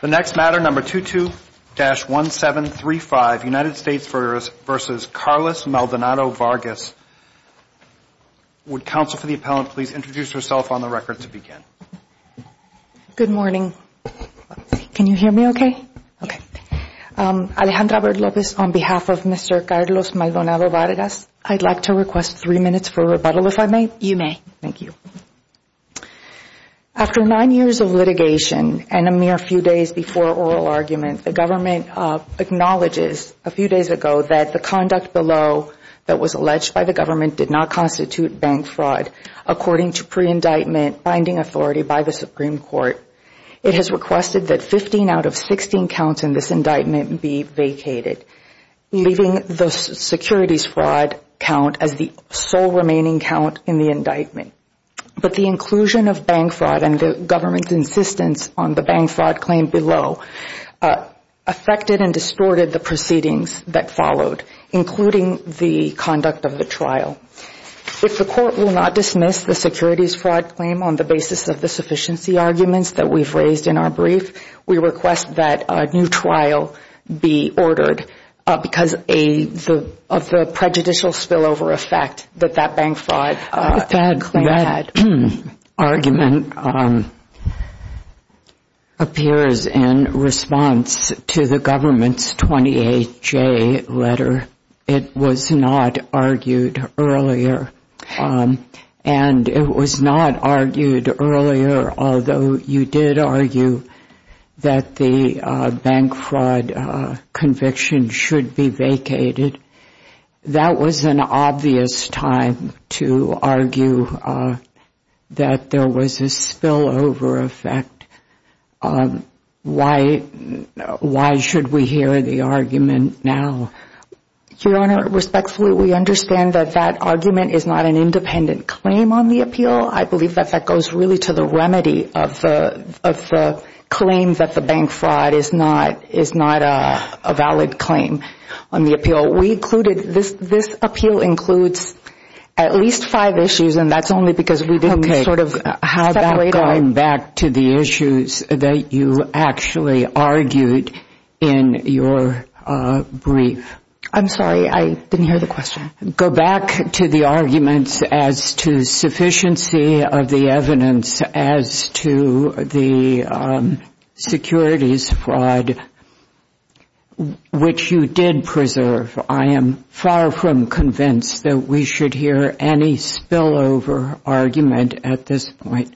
The next matter, number 22-1735, United States v. Carlos Maldonado-Vargas. Would counsel for the appellant please introduce herself on the record to begin? Good morning. Can you hear me okay? Okay. Alejandra Averde Lopez on behalf of Mr. Carlos Maldonado-Vargas. I'd like to request three minutes for rebuttal, if I may. You may. Thank you. After nine years of litigation and a mere few days before oral argument, the government acknowledges a few days ago that the conduct below that was alleged by the government did not constitute bank fraud, according to pre-indictment binding authority by the Supreme Court. It has requested that 15 out of 16 counts in this indictment be vacated, leaving the securities fraud count as the sole remaining count in the indictment. But the inclusion of bank fraud and the government's insistence on the bank fraud claim below affected and distorted the proceedings that followed, including the conduct of the trial. If the court will not dismiss the securities fraud claim on the basis of the sufficiency arguments that we've raised in our brief, we request that a new trial be ordered because of the prejudicial spillover effect that that bank fraud claim had. That argument appears in response to the government's 28-J letter. It was not argued earlier. And it was not argued earlier, although you did argue that the bank fraud conviction should be vacated. That was an obvious time to argue that there was a spillover effect. Why should we hear the argument now? Your Honor, respectfully, we understand that that argument is not an independent claim on the appeal. I believe that that goes really to the remedy of the claim that the bank fraud is not a valid claim on the appeal. This appeal includes at least five issues, and that's only because we didn't sort of separate them. Go back to the issues that you actually argued in your brief. I'm sorry. I didn't hear the question. Go back to the arguments as to sufficiency of the evidence as to the securities fraud, which you did preserve. I am far from convinced that we should hear any spillover argument at this point.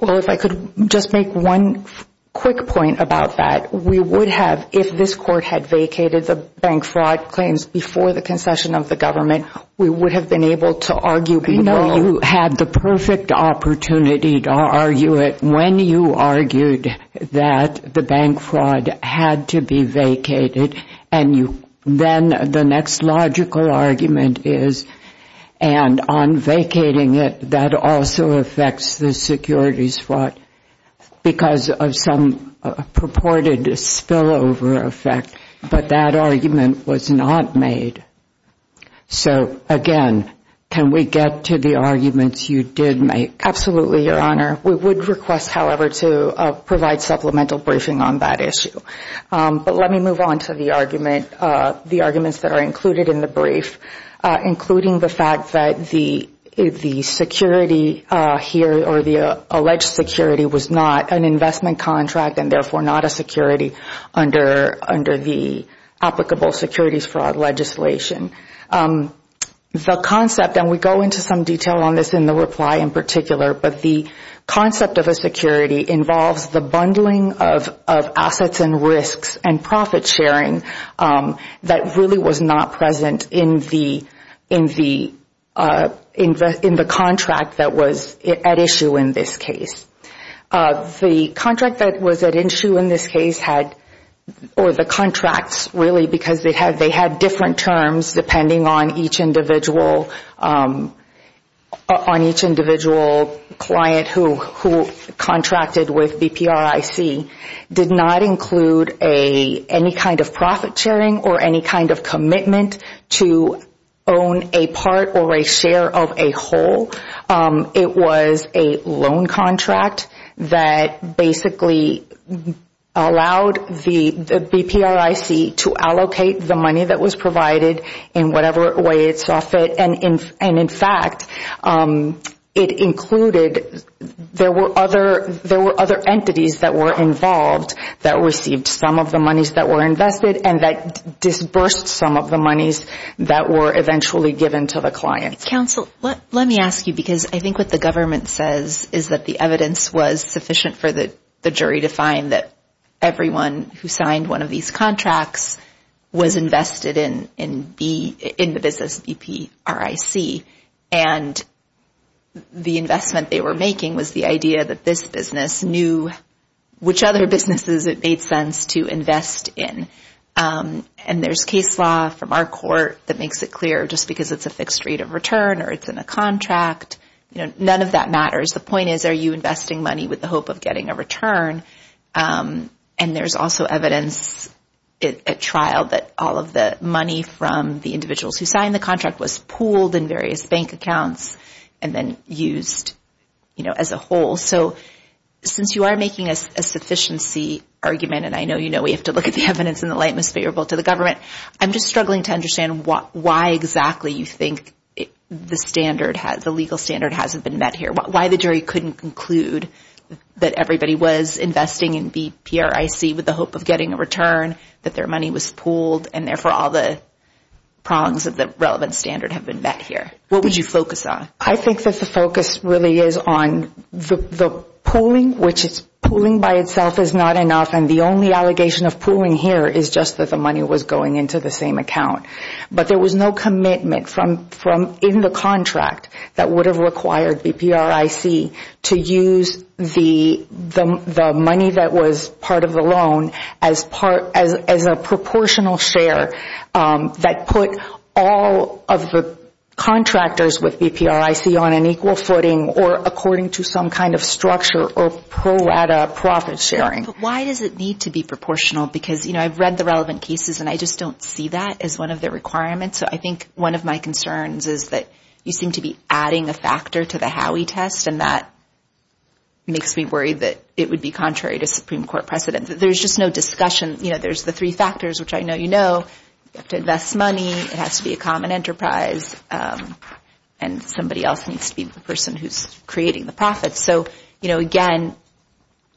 Well, if I could just make one quick point about that. We would have, if this Court had vacated the bank fraud claims before the concession of the government, we would have been able to argue below. I know you had the perfect opportunity to argue it when you argued that the bank fraud had to be vacated and then the next logical argument is, and on vacating it, that also affects the securities fraud because of some purported spillover effect, but that argument was not made. So, again, can we get to the arguments you did make? Absolutely, Your Honor. We would request, however, to provide supplemental briefing on that issue. But let me move on to the arguments that are included in the brief, including the fact that the security here or the alleged security was not an investment contract and therefore not a security under the applicable securities fraud legislation. The concept, and we go into some detail on this in the reply in particular, but the concept of a security involves the bundling of assets and risks and profit sharing that really was not present in the contract that was at issue in this case. The contract that was at issue in this case had, or the contracts really, because they had different terms depending on each individual client who contracted with BPRIC, did not include any kind of profit sharing or any kind of commitment to own a part or a share of a whole. It was a loan contract that basically allowed the BPRIC to allocate the money that was provided in whatever way it saw fit, and in fact, it included, there were other entities that were involved that received some of the monies that were invested and that disbursed some of the monies that were eventually given to the clients. Counsel, let me ask you, because I think what the government says is that the evidence was sufficient for the jury to find that everyone who signed one of these contracts was invested in the business BPRIC and the investment they were making was the idea that this business knew which other businesses it made sense to invest in, and there's case law from our court that makes it clear just because it's a fixed rate of return or it's in a contract, none of that matters. The point is, are you investing money with the hope of getting a return? And there's also evidence at trial that all of the money from the individuals who signed the contract was pooled in various bank accounts and then used as a whole. So since you are making a sufficiency argument, and I know you know we have to look at the evidence and the lightness favorable to the government, I'm just struggling to understand why exactly you think the legal standard hasn't been met here, why the jury couldn't conclude that everybody was investing in BPRIC with the hope of getting a return, that their money was pooled, and therefore all the prongs of the relevant standard have been met here. What would you focus on? I think that the focus really is on the pooling, which pooling by itself is not enough, and the only allegation of pooling here is just that the money was going into the same account. But there was no commitment in the contract that would have required BPRIC to use the money that was part of the loan as a proportional share that put all of the contractors with BPRIC on an equal footing or according to some kind of structure or pro rata profit sharing. But why does it need to be proportional? Because I've read the relevant cases, and I just don't see that as one of the requirements. So I think one of my concerns is that you seem to be adding a factor to the Howey test, and that makes me worry that it would be contrary to Supreme Court precedent. There's just no discussion. There's the three factors, which I know you know. You have to invest money. It has to be a common enterprise, and somebody else needs to be the person who's creating the profits. So, again,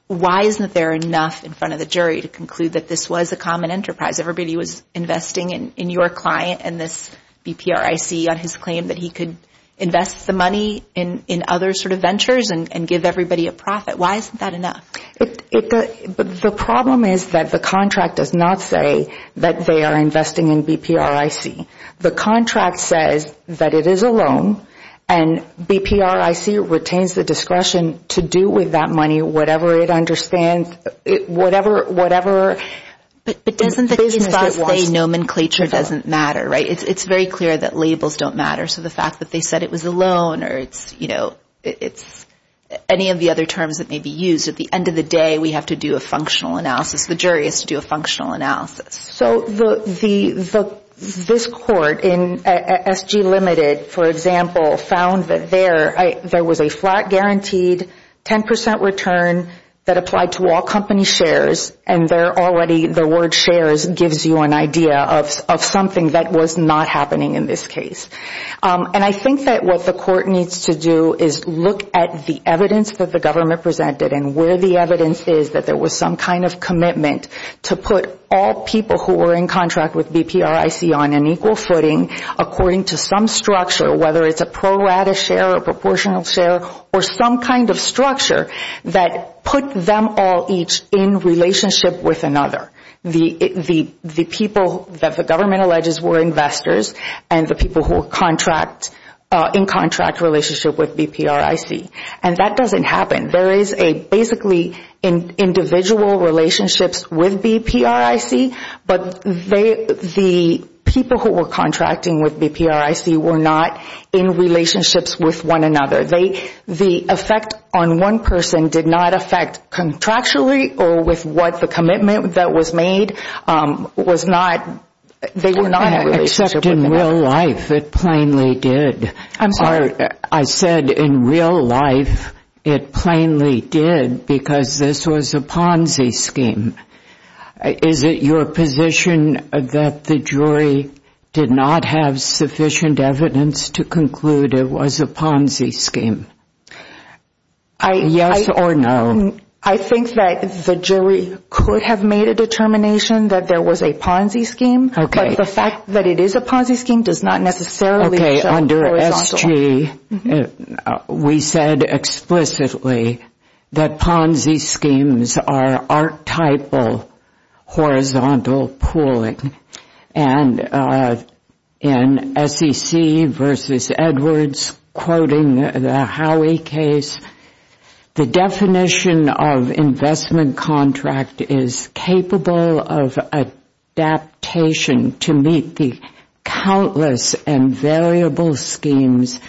why isn't there enough in front of the jury to conclude that this was a common enterprise? Everybody was investing in your client and this BPRIC on his claim that he could invest the money in other sort of ventures and give everybody a profit. Why isn't that enough? The problem is that the contract does not say that they are investing in BPRIC. The contract says that it is a loan, and BPRIC retains the discretion to do with that money whatever it understands, whatever business it wants. But doesn't the conspiracy nomenclature doesn't matter, right? It's very clear that labels don't matter. So the fact that they said it was a loan or it's any of the other terms that may be used, at the end of the day we have to do a functional analysis. The jury has to do a functional analysis. So this court in SG Limited, for example, found that there was a flat guaranteed 10 percent return that applied to all company shares, and already the word shares gives you an idea of something that was not happening in this case. And I think that what the court needs to do is look at the evidence that the government presented and where the evidence is that there was some kind of commitment to put all people who were in contract with BPRIC on an equal footing according to some structure, whether it's a pro rata share, a proportional share, or some kind of structure that put them all each in relationship with another. The people that the government alleges were investors and the people who were in contract relationship with BPRIC. And that doesn't happen. There is a basically individual relationships with BPRIC, but the people who were contracting with BPRIC were not in relationships with one another. The effect on one person did not affect contractually or with what the commitment that was made. They were not in a relationship with another. In real life it plainly did. I'm sorry. I said in real life it plainly did because this was a Ponzi scheme. Is it your position that the jury did not have sufficient evidence to conclude it was a Ponzi scheme? Yes or no. I think that the jury could have made a determination that there was a Ponzi scheme, but the fact that it is a Ponzi scheme does not necessarily show horizontal. Okay, under SG we said explicitly that Ponzi schemes are archetypal horizontal pooling. And in SEC versus Edwards quoting the Howey case, the definition of investment contract is capable of adaptation to meet the countless and variable schemes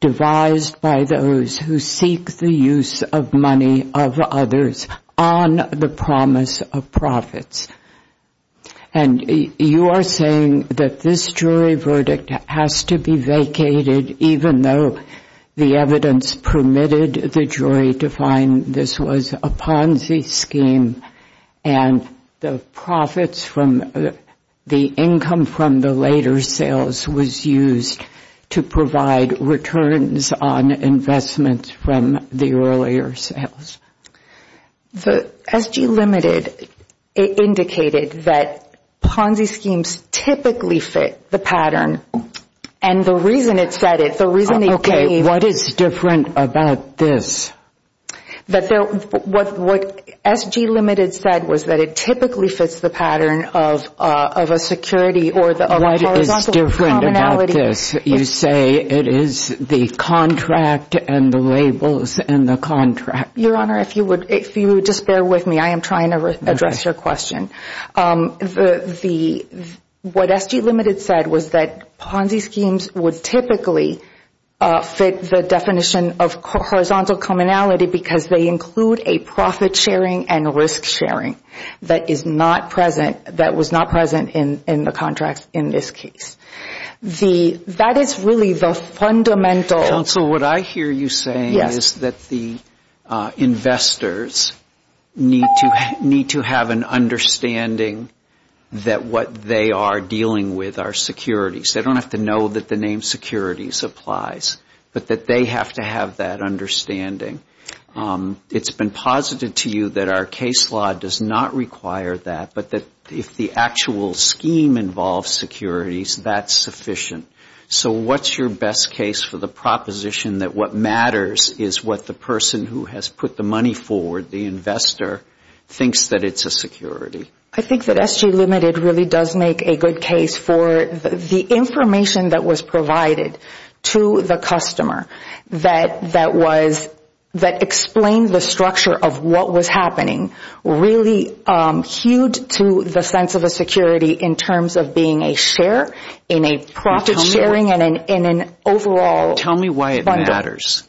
devised by those who seek the use of money of others on the promise of profits. And you are saying that this jury verdict has to be vacated even though the evidence permitted the jury to find this was a Ponzi scheme and the profits from the income from the later sales was used to provide returns on investments from the earlier sales. The SG limited indicated that Ponzi schemes typically fit the pattern. And the reason it said it, the reason it gave. Okay, what is different about this? What SG limited said was that it typically fits the pattern of a security or a horizontal commonality. What is different about this? You say it is the contract and the labels in the contract. Your Honor, if you would just bear with me, I am trying to address your question. What SG limited said was that Ponzi schemes would typically fit the definition of horizontal commonality because they include a profit sharing and risk sharing that is not present, that was not present in the contract in this case. That is really the fundamental. Counsel, what I hear you saying is that the investors need to have an understanding that what they are dealing with are securities. They don't have to know that the name securities applies, but that they have to have that understanding. It has been posited to you that our case law does not require that, but that if the actual scheme involves securities, that is sufficient. So what is your best case for the proposition that what matters is what the person who has put the money forward, the investor, thinks that it is a security? I think that SG limited really does make a good case for the information that was provided to the customer that explained the structure of what was happening, really hewed to the sense of a security in terms of being a share in a profit sharing and an overall bundle. Tell me why it matters.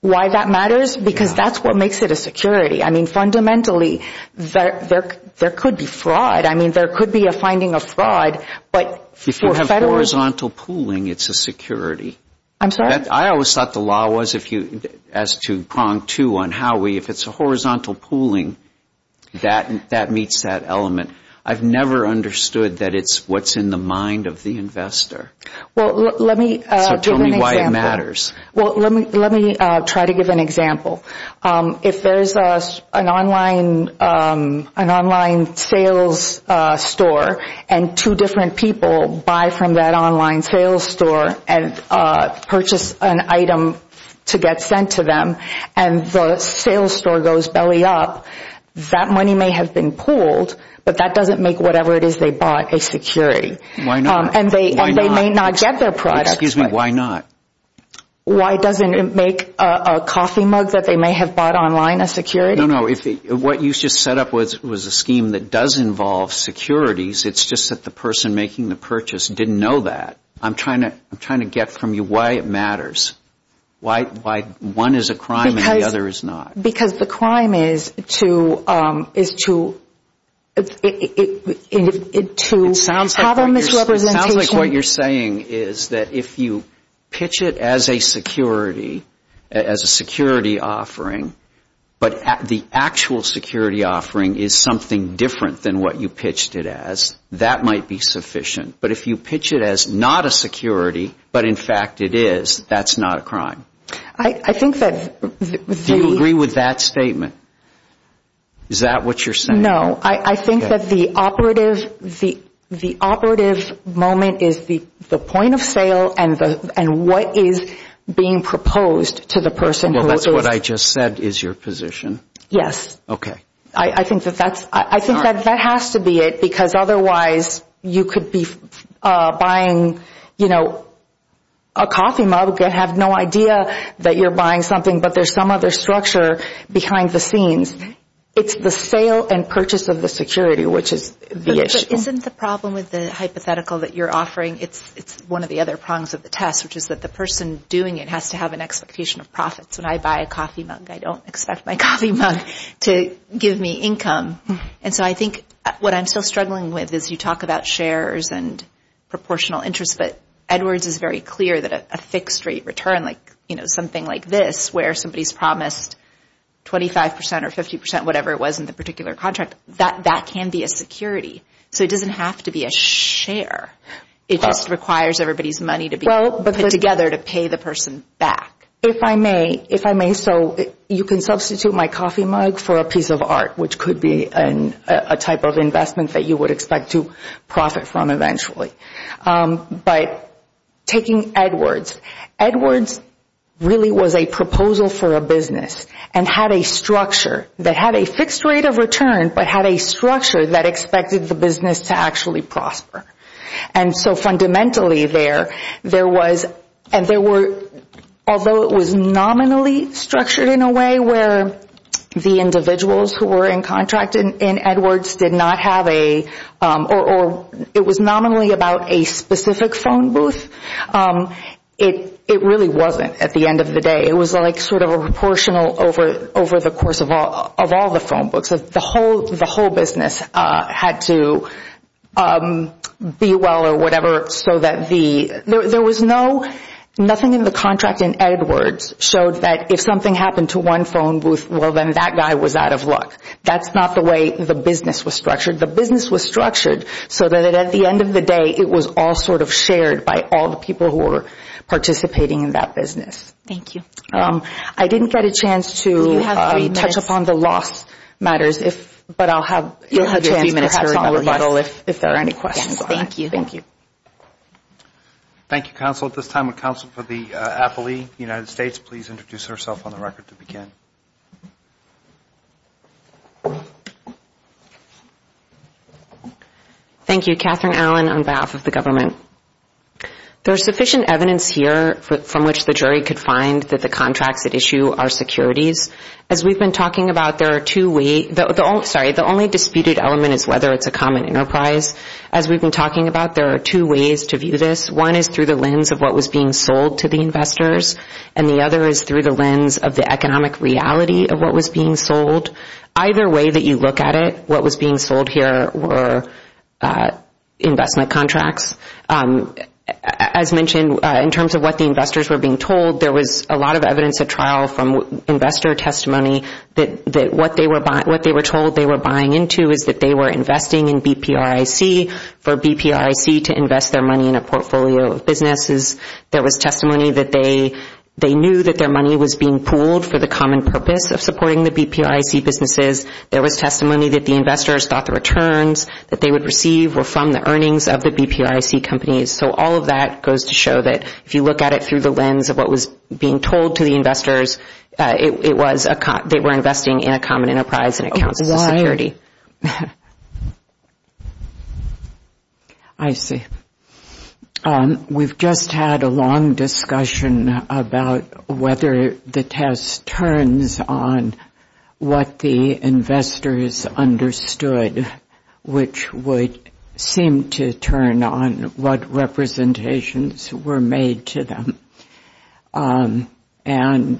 Why that matters? Because that is what makes it a security. I mean, fundamentally, there could be fraud. I mean, there could be a finding of fraud. If you have horizontal pooling, it is a security. I'm sorry? I always thought the law was, as to prong two on how we, if it is a horizontal pooling, that meets that element. I have never understood that it is what is in the mind of the investor. So tell me why it matters. Well, let me try to give an example. If there is an online sales store and two different people buy from that online sales store and purchase an item to get sent to them and the sales store goes belly up, that money may have been pooled, but that doesn't make whatever it is they bought a security. Why not? And they may not get their product. Excuse me. Why not? Why doesn't it make a coffee mug that they may have bought online a security? No, no. What you just set up was a scheme that does involve securities. It is just that the person making the purchase didn't know that. I'm trying to get from you why it matters, why one is a crime and the other is not. Because the crime is to have a misrepresentation. It sounds like what you're saying is that if you pitch it as a security, as a security offering, but the actual security offering is something different than what you pitched it as, that might be sufficient. But if you pitch it as not a security, but in fact it is, that's not a crime. Do you agree with that statement? Is that what you're saying? I think that the operative moment is the point of sale and what is being proposed to the person. Well, that's what I just said is your position. Yes. Okay. I think that that has to be it because otherwise you could be buying, you know, a coffee mug and have no idea that you're buying something, but there's some other structure behind the scenes. It's the sale and purchase of the security, which is the issue. But isn't the problem with the hypothetical that you're offering, it's one of the other prongs of the test, which is that the person doing it has to have an expectation of profits. It's when I buy a coffee mug, I don't expect my coffee mug to give me income. And so I think what I'm still struggling with is you talk about shares and proportional interest, but Edwards is very clear that a fixed rate return, like, you know, something like this, where somebody's promised 25 percent or 50 percent, whatever it was in the particular contract, that can be a security. So it doesn't have to be a share. It just requires everybody's money to be put together to pay the person back. If I may, if I may so, you can substitute my coffee mug for a piece of art, which could be a type of investment that you would expect to profit from eventually. But taking Edwards, Edwards really was a proposal for a business and had a structure that had a fixed rate of return but had a structure that expected the business to actually prosper. And so fundamentally there, there was, and there were, although it was nominally structured in a way where the individuals who were in contract in Edwards did not have a, or it was nominally about a specific phone booth, it really wasn't at the end of the day. It was like sort of a proportional over the course of all the phone books. So the whole, the whole business had to be well or whatever so that the, there was no, nothing in the contract in Edwards showed that if something happened to one phone booth, well then that guy was out of luck. That's not the way the business was structured. The business was structured so that at the end of the day it was all sort of shared by all the people who were participating in that business. Thank you. I didn't get a chance to touch upon the loss matters, but I'll have a chance perhaps on the rebuttal if there are any questions. Thank you. Thank you, counsel. At this time would counsel for the affilee, United States, please introduce herself on the record to begin. Thank you. Catherine Allen on behalf of the government. There's sufficient evidence here from which the jury could find that the contracts at issue are securities. As we've been talking about, there are two ways, sorry, the only disputed element is whether it's a common enterprise. As we've been talking about, there are two ways to view this. One is through the lens of what was being sold to the investors, and the other is through the lens of the economic reality of what was being sold. Either way that you look at it, what was being sold here were investment contracts. As mentioned, in terms of what the investors were being told, there was a lot of evidence at trial from investor testimony that what they were told they were buying into is that they were investing in BPRIC for BPRIC to invest their money in a portfolio of businesses. There was testimony that they knew that their money was being pooled for the common purpose of supporting the BPRIC businesses. There was testimony that the investors thought the returns that they would receive were from the earnings of the BPRIC companies. So all of that goes to show that if you look at it through the lens of what was being told to the investors, they were investing in a common enterprise and it counts as a security. I see. We've just had a long discussion about whether the test turns on what the investors understood, which would seem to turn on what representations were made to them. And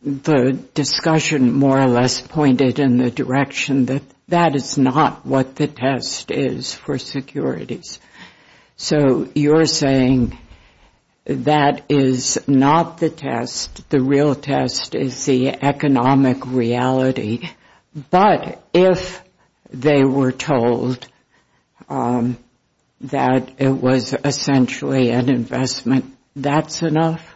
the discussion more or less pointed in the direction that that is not what the test is for securities. So you're saying that is not the test. The real test is the economic reality. But if they were told that it was essentially an investment, that's enough?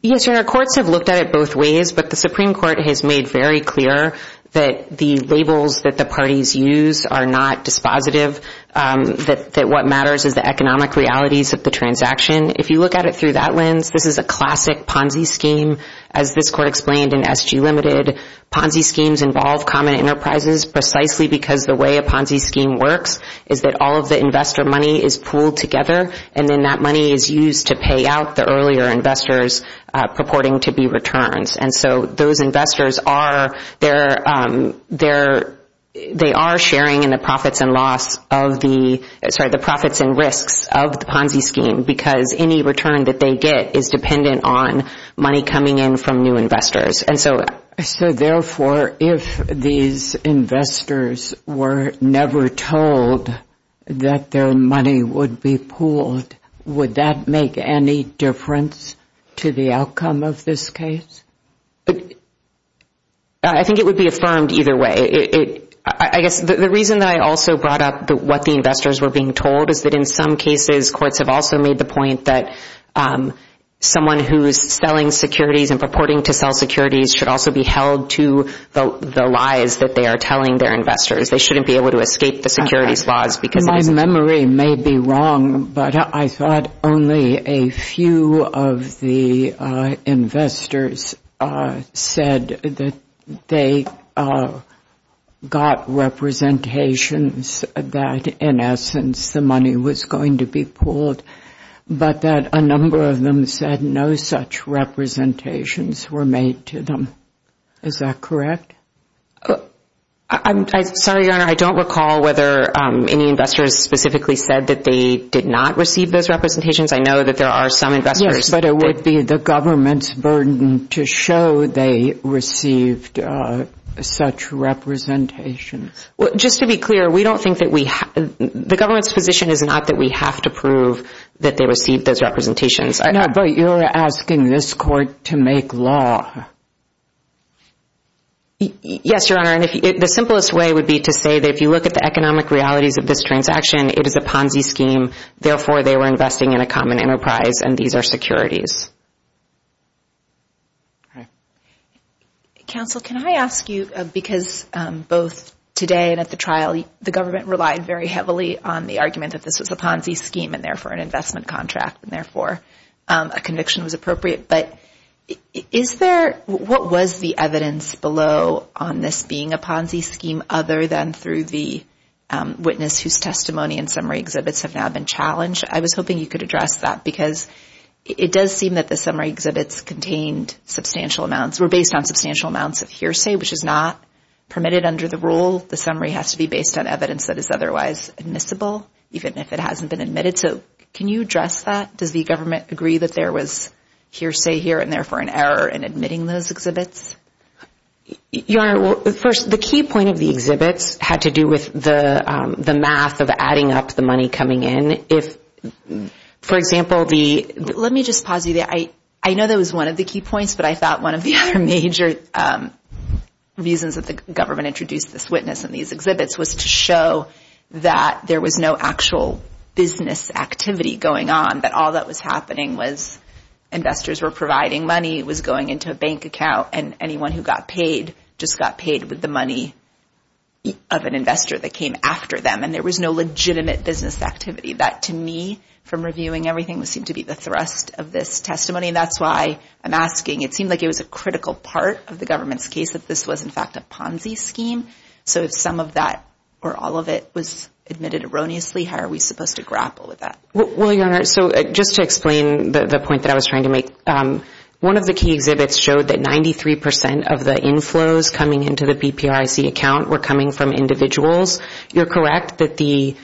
Yes, Your Honor, courts have looked at it both ways, but the Supreme Court has made very clear that the labels that the parties use are not dispositive, that what matters is the economic realities of the transaction. If you look at it through that lens, this is a classic Ponzi scheme. As this court explained in SG Limited, Ponzi schemes involve common enterprises precisely because the way a Ponzi scheme works is that all of the investor money is pooled together, and then that money is used to pay out the earlier investors purporting to be returns. And so those investors are sharing in the profits and risks of the Ponzi scheme because any return that they get is dependent on money coming in from new investors. So therefore, if these investors were never told that their money would be pooled, would that make any difference to the outcome of this case? I think it would be affirmed either way. I guess the reason that I also brought up what the investors were being told is that in some cases courts have also made the point that someone who is selling securities and purporting to sell securities should also be held to the lies that they are telling their investors. They shouldn't be able to escape the securities laws because it is— My memory may be wrong, but I thought only a few of the investors said that they got representations that in essence the money was going to be pooled, but that a number of them said no such representations were made to them. Is that correct? I'm sorry, Your Honor. I don't recall whether any investors specifically said that they did not receive those representations. I know that there are some investors— Yes, but it would be the government's burden to show they received such representations. Just to be clear, we don't think that we— the government's position is not that we have to prove that they received those representations. But you're asking this court to make law. Yes, Your Honor. The simplest way would be to say that if you look at the economic realities of this transaction, it is a Ponzi scheme, therefore they were investing in a common enterprise, and these are securities. Okay. Counsel, can I ask you, because both today and at the trial, the government relied very heavily on the argument that this was a Ponzi scheme and therefore an investment contract, and therefore a conviction was appropriate. But is there—what was the evidence below on this being a Ponzi scheme other than through the witness whose testimony and summary exhibits have now been challenged? I was hoping you could address that because it does seem that the summary exhibits contained substantial amounts—were based on substantial amounts of hearsay, which is not permitted under the rule. The summary has to be based on evidence that is otherwise admissible, even if it hasn't been admitted. So can you address that? Does the government agree that there was hearsay here and therefore an error in admitting those exhibits? Your Honor, first, the key point of the exhibits had to do with the math of adding up the money coming in. If, for example, the— Let me just pause you there. I know that was one of the key points, but I thought one of the other major reasons that the government introduced this witness and these exhibits was to show that there was no actual business activity going on, that all that was happening was investors were providing money, it was going into a bank account, and anyone who got paid just got paid with the money of an investor that came after them, and there was no legitimate business activity. That, to me, from reviewing everything, seemed to be the thrust of this testimony, and that's why I'm asking. It seemed like it was a critical part of the government's case that this was, in fact, a Ponzi scheme. So if some of that or all of it was admitted erroneously, how are we supposed to grapple with that? Well, Your Honor, so just to explain the point that I was trying to make, one of the key exhibits showed that 93% of the inflows coming into the PPRC account were coming from individuals. You're correct that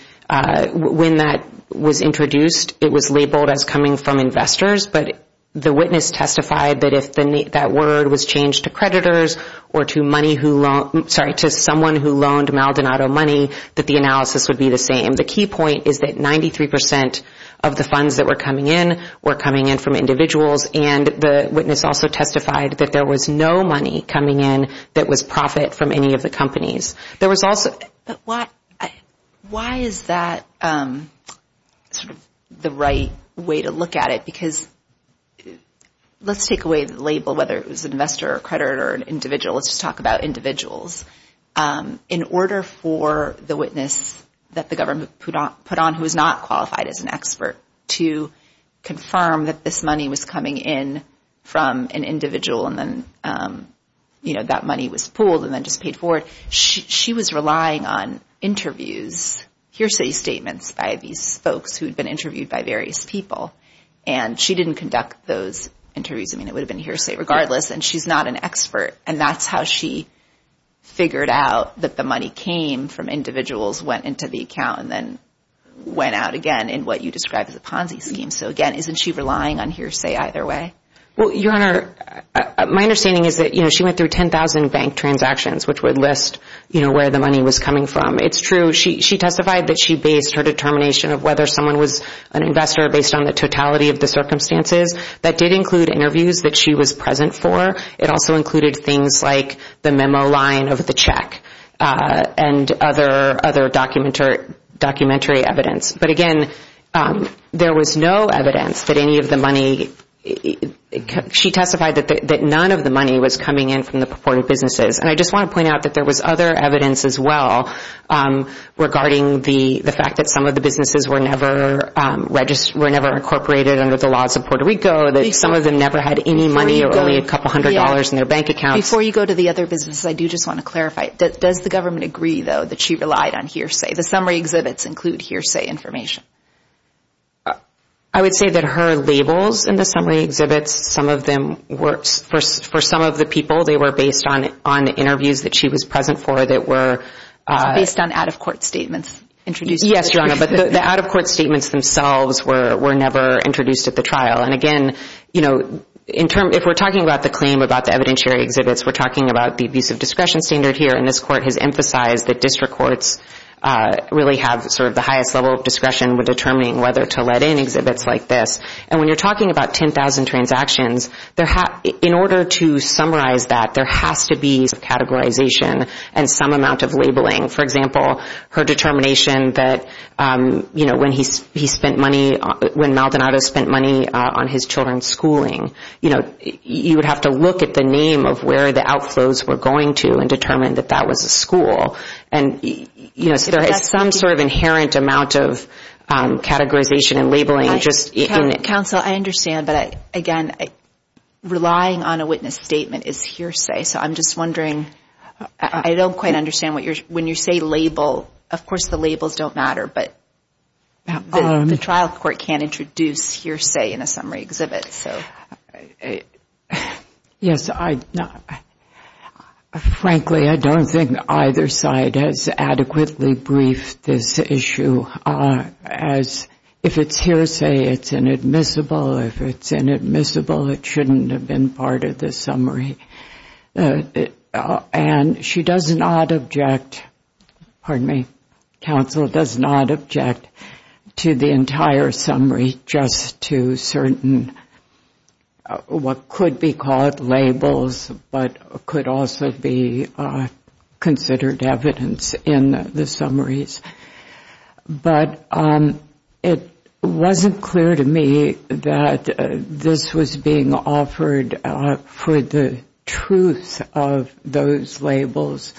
when that was introduced, it was labeled as coming from investors, but the witness testified that if that word was changed to creditors or to someone who loaned Maldonado money, that the analysis would be the same. The key point is that 93% of the funds that were coming in were coming in from individuals, and the witness also testified that there was no money coming in that was profit from any of the companies. There was also... But why is that sort of the right way to look at it? Because let's take away the label, whether it was an investor or a creditor or an individual, let's just talk about individuals. In order for the witness that the government put on who was not qualified as an expert to confirm that this money was coming in from an individual and then, you know, that money was pooled and then just paid forward, she was relying on interviews, hearsay statements by these folks who had been interviewed by various people, and she didn't conduct those interviews. I mean, it would have been hearsay regardless, and she's not an expert, and that's how she figured out that the money came from individuals, went into the account, and then went out again in what you described as a Ponzi scheme. So, again, isn't she relying on hearsay either way? Well, Your Honor, my understanding is that, you know, she went through 10,000 bank transactions, which would list, you know, where the money was coming from. It's true. She testified that she based her determination of whether someone was an investor based on the totality of the circumstances. That did include interviews that she was present for. It also included things like the memo line of the check and other documentary evidence. But, again, there was no evidence that any of the money – she testified that none of the money was coming in from the purported businesses, and I just want to point out that there was other evidence as well regarding the fact that some of the businesses were never incorporated under the laws of Puerto Rico, that some of them never had any money or only a couple hundred dollars in their bank accounts. Before you go to the other businesses, I do just want to clarify. Does the government agree, though, that she relied on hearsay? The summary exhibits include hearsay information. I would say that her labels in the summary exhibits, some of them were – for some of the people, they were based on interviews that she was present for that were – Based on out-of-court statements introduced. Yes, Your Honor, but the out-of-court statements themselves were never introduced at the trial. And, again, if we're talking about the claim about the evidentiary exhibits, we're talking about the abuse of discretion standard here, and this court has emphasized that district courts really have sort of the highest level of discretion with determining whether to let in exhibits like this. And when you're talking about 10,000 transactions, in order to summarize that, there has to be some categorization and some amount of labeling. For example, her determination that when he spent money – when Maldonado spent money on his children's schooling, you would have to look at the name of where the outflows were going to and determine that that was a school. And there is some sort of inherent amount of categorization and labeling. Counsel, I understand, but, again, relying on a witness statement is hearsay. So I'm just wondering – I don't quite understand what you're – when you say label, of course the labels don't matter, but the trial court can't introduce hearsay in a summary exhibit. Yes. Frankly, I don't think either side has adequately briefed this issue. If it's hearsay, it's inadmissible. If it's inadmissible, it shouldn't have been part of the summary. And she does not object – pardon me – counsel does not object to the entire summary, just to certain what could be called labels, but could also be considered evidence in the summaries. But it wasn't clear to me that this was being offered for the truth of those labels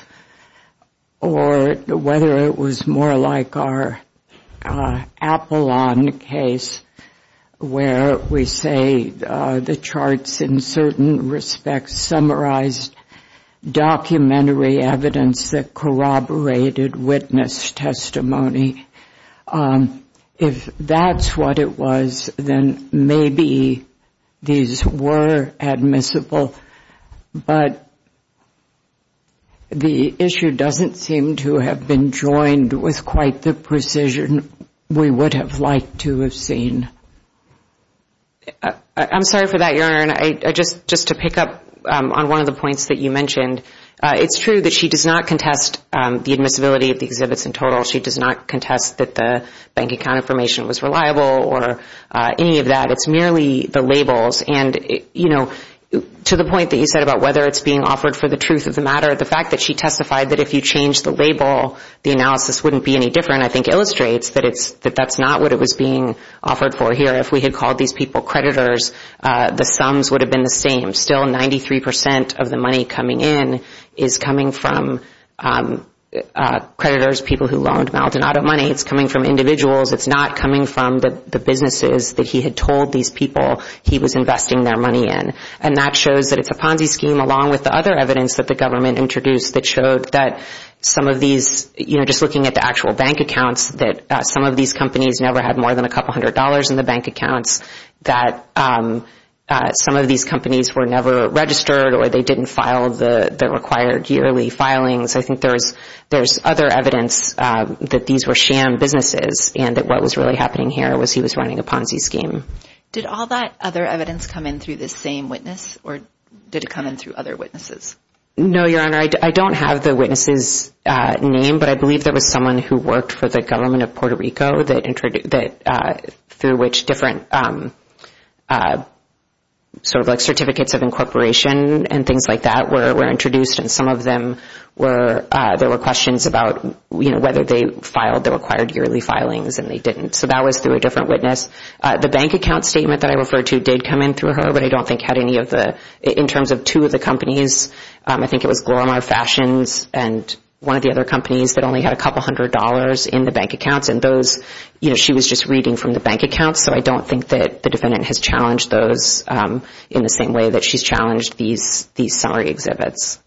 or whether it was more like our Apollon case where we say the charts in certain respects summarized documentary evidence that corroborated witness testimony. If that's what it was, then maybe these were admissible, but the issue doesn't seem to have been joined with quite the precision we would have liked to have seen. I'm sorry for that, Your Honor. Just to pick up on one of the points that you mentioned, it's true that she does not contest the admissibility of the exhibits in total. She does not contest that the bank account information was reliable or any of that. It's merely the labels. And to the point that you said about whether it's being offered for the truth of the matter, the fact that she testified that if you change the label, the analysis wouldn't be any different, I think, illustrates that that's not what it was being offered for here. If we had called these people creditors, the sums would have been the same. Still, 93% of the money coming in is coming from creditors, people who loaned Maldonado money. It's coming from individuals. It's not coming from the businesses that he had told these people he was investing their money in. And that shows that it's a Ponzi scheme along with the other evidence that the government introduced that showed that some of these, just looking at the actual bank accounts, that some of these companies never had more than a couple hundred dollars in the bank accounts, that some of these companies were never registered or they didn't file the required yearly filings. I think there's other evidence that these were sham businesses and that what was really happening here was he was running a Ponzi scheme. Did all that other evidence come in through this same witness or did it come in through other witnesses? No, Your Honor. I don't have the witness's name, but I believe there was someone who worked for the government of Puerto Rico that through which different sort of like certificates of incorporation and things like that were introduced and some of them were, there were questions about whether they filed the required yearly filings and they didn't, so that was through a different witness. The bank account statement that I referred to did come in through her, but I don't think had any of the, in terms of two of the companies, I think it was Glorimar Fashions and one of the other companies that only had a couple hundred dollars in the bank accounts, and those, you know, she was just reading from the bank accounts, so I don't think that the defendant has challenged those in the same way that she's challenged these summary exhibits.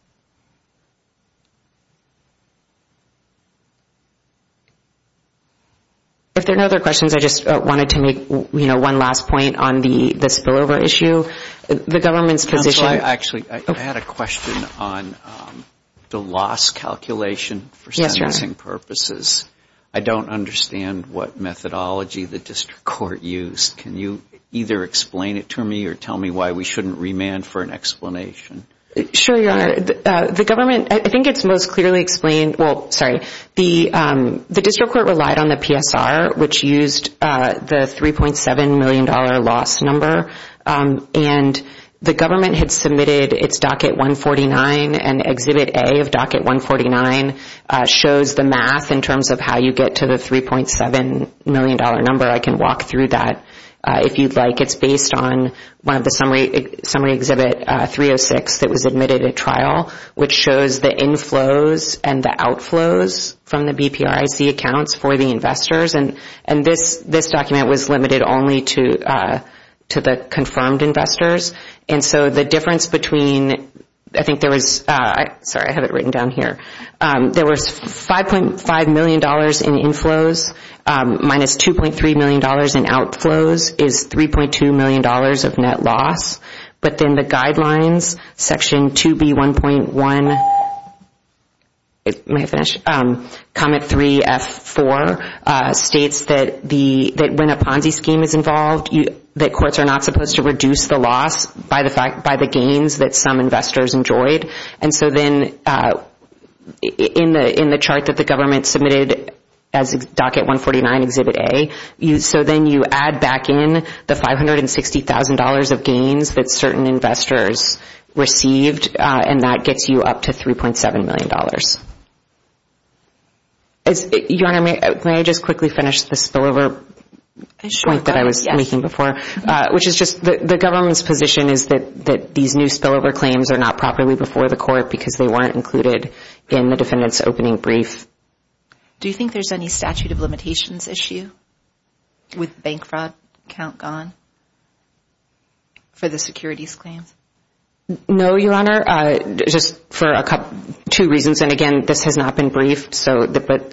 If there are no other questions, I just wanted to make, you know, one last point on the spillover issue. The government's position. Counsel, I actually, I had a question on the loss calculation for sentencing purposes. I don't understand what methodology the district court used. Can you either explain it to me or tell me why we shouldn't remand for an explanation? Sure, Your Honor. The government, I think it's most clearly explained, well, sorry. The district court relied on the PSR, which used the $3.7 million loss number, and the government had submitted its docket 149, and exhibit A of docket 149 shows the math in terms of how you get to the $3.7 million number. I can walk through that if you'd like. It's based on one of the summary exhibit 306 that was admitted at trial, which shows the inflows and the outflows from the BPRIC accounts for the investors, and this document was limited only to the confirmed investors, and so the difference between, I think there was, sorry, I have it written down here. There was $5.5 million in inflows minus $2.3 million in outflows is $3.2 million of net loss, but then the guidelines, section 2B1.1, comment 3F4, states that when a Ponzi scheme is involved, that courts are not supposed to reduce the loss by the gains that some investors enjoyed, and so then in the chart that the government submitted as docket 149, exhibit A, so then you add back in the $560,000 of gains that certain investors received, and that gets you up to $3.7 million. Your Honor, may I just quickly finish the spillover point that I was making before, which is just the government's position is that these new spillover claims are not properly before the court because they weren't included in the defendant's opening brief. Do you think there's any statute of limitations issue with bank fraud count gone for the securities claims? No, Your Honor, just for two reasons, and again, this has not been briefed, but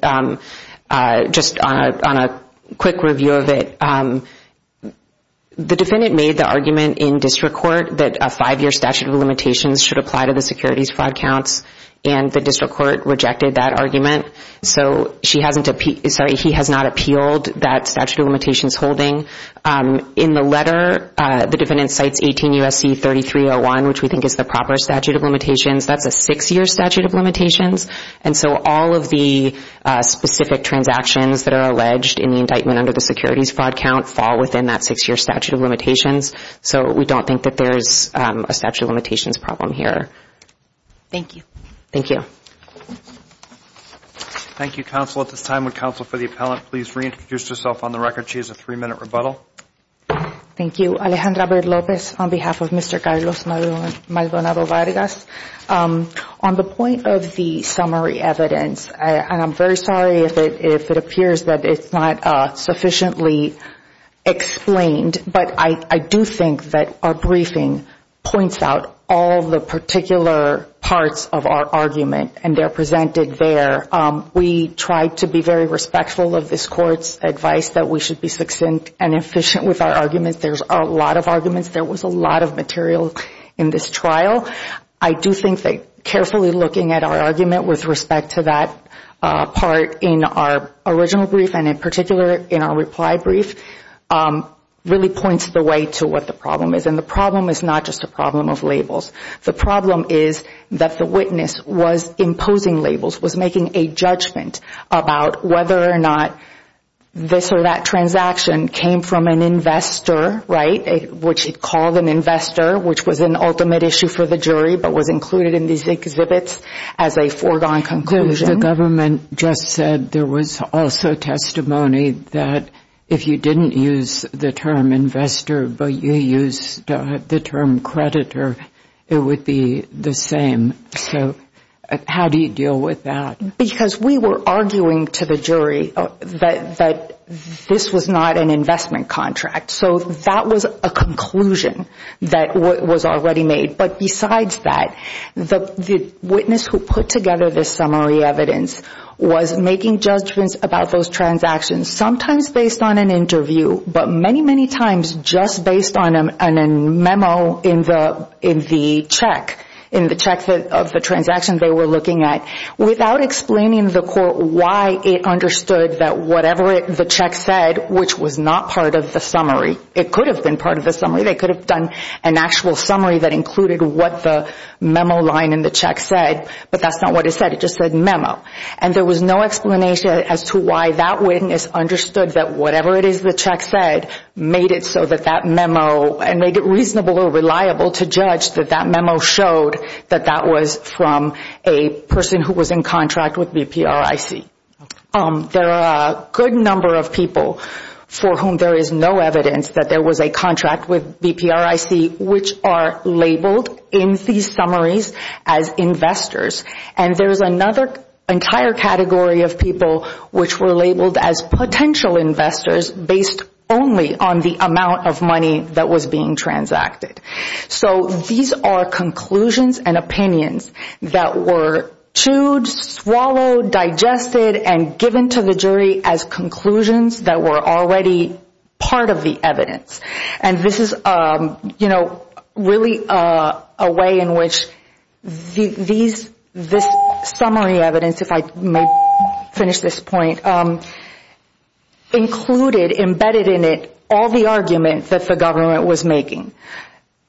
just on a quick review of it, the defendant made the argument in district court that a five-year statute of limitations should apply to the securities fraud counts, and the district court rejected that argument, so he has not appealed that statute of limitations holding. In the letter, the defendant cites 18 U.S.C. 3301, which we think is the proper statute of limitations. That's a six-year statute of limitations, and so all of the specific transactions that are alleged in the indictment under the securities fraud count fall within that six-year statute of limitations, so we don't think that there's a statute of limitations problem here. Thank you. Thank you. Thank you, counsel. At this time, would counsel for the appellant please reintroduce herself on the record? She has a three-minute rebuttal. Thank you. Alejandra Bair Lopez on behalf of Mr. Carlos Maldonado Vargas. On the point of the summary evidence, and I'm very sorry if it appears that it's not sufficiently explained, but I do think that our briefing points out all the particular parts of our argument, and they're presented there. We try to be very respectful of this Court's advice that we should be succinct and efficient with our arguments. There's a lot of arguments. There was a lot of material in this trial. I do think that carefully looking at our argument with respect to that part in our original brief and in particular in our reply brief really points the way to what the problem is, and the problem is not just a problem of labels. The problem is that the witness was imposing labels, was making a judgment about whether or not this or that transaction came from an investor, right, which he called an investor, which was an ultimate issue for the jury but was included in these exhibits as a foregone conclusion. The government just said there was also testimony that if you didn't use the term investor but you used the term creditor, it would be the same. So how do you deal with that? Because we were arguing to the jury that this was not an investment contract. So that was a conclusion that was already made. But besides that, the witness who put together this summary evidence was making judgments about those transactions, sometimes based on an interview but many, many times just based on a memo in the check, in the check of the transaction they were looking at, without explaining to the court why it understood that whatever the check said, which was not part of the summary, it could have been part of the summary. They could have done an actual summary that included what the memo line in the check said, but that's not what it said. It just said memo. And there was no explanation as to why that witness understood that whatever it is the check said made it so that that memo and made it reasonable or reliable to judge that that memo showed that that was from a person who was in contract with BPRIC. There are a good number of people for whom there is no evidence that there was a contract with BPRIC, which are labeled in these summaries as investors. And there is another entire category of people which were labeled as potential investors based only on the amount of money that was being transacted. So these are conclusions and opinions that were chewed, swallowed, digested, and given to the jury as conclusions that were already part of the evidence. And this is really a way in which this summary evidence, if I may finish this point, included, embedded in it, all the arguments that the government was making.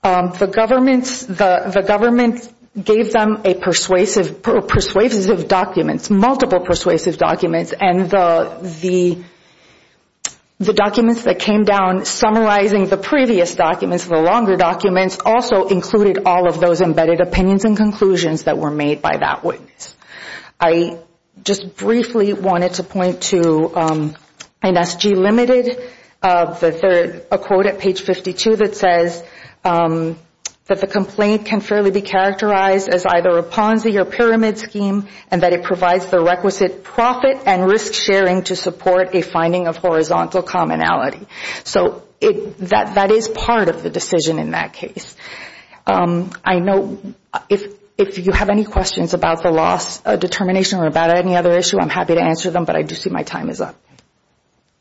The government gave them a persuasive document, multiple persuasive documents, and the documents that came down summarizing the previous documents, the longer documents, also included all of those embedded opinions and conclusions that were made by that witness. I just briefly wanted to point to NSG Limited, a quote at page 52 that says, that the complaint can fairly be characterized as either a Ponzi or pyramid scheme and that it provides the requisite profit and risk sharing to support a finding of horizontal commonality. So that is part of the decision in that case. I know if you have any questions about the loss determination or about any other issue, I'm happy to answer them, but I do see my time is up.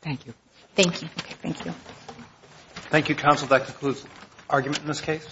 Thank you. Thank you. Okay, thank you. Thank you, counsel. That concludes the argument in this case.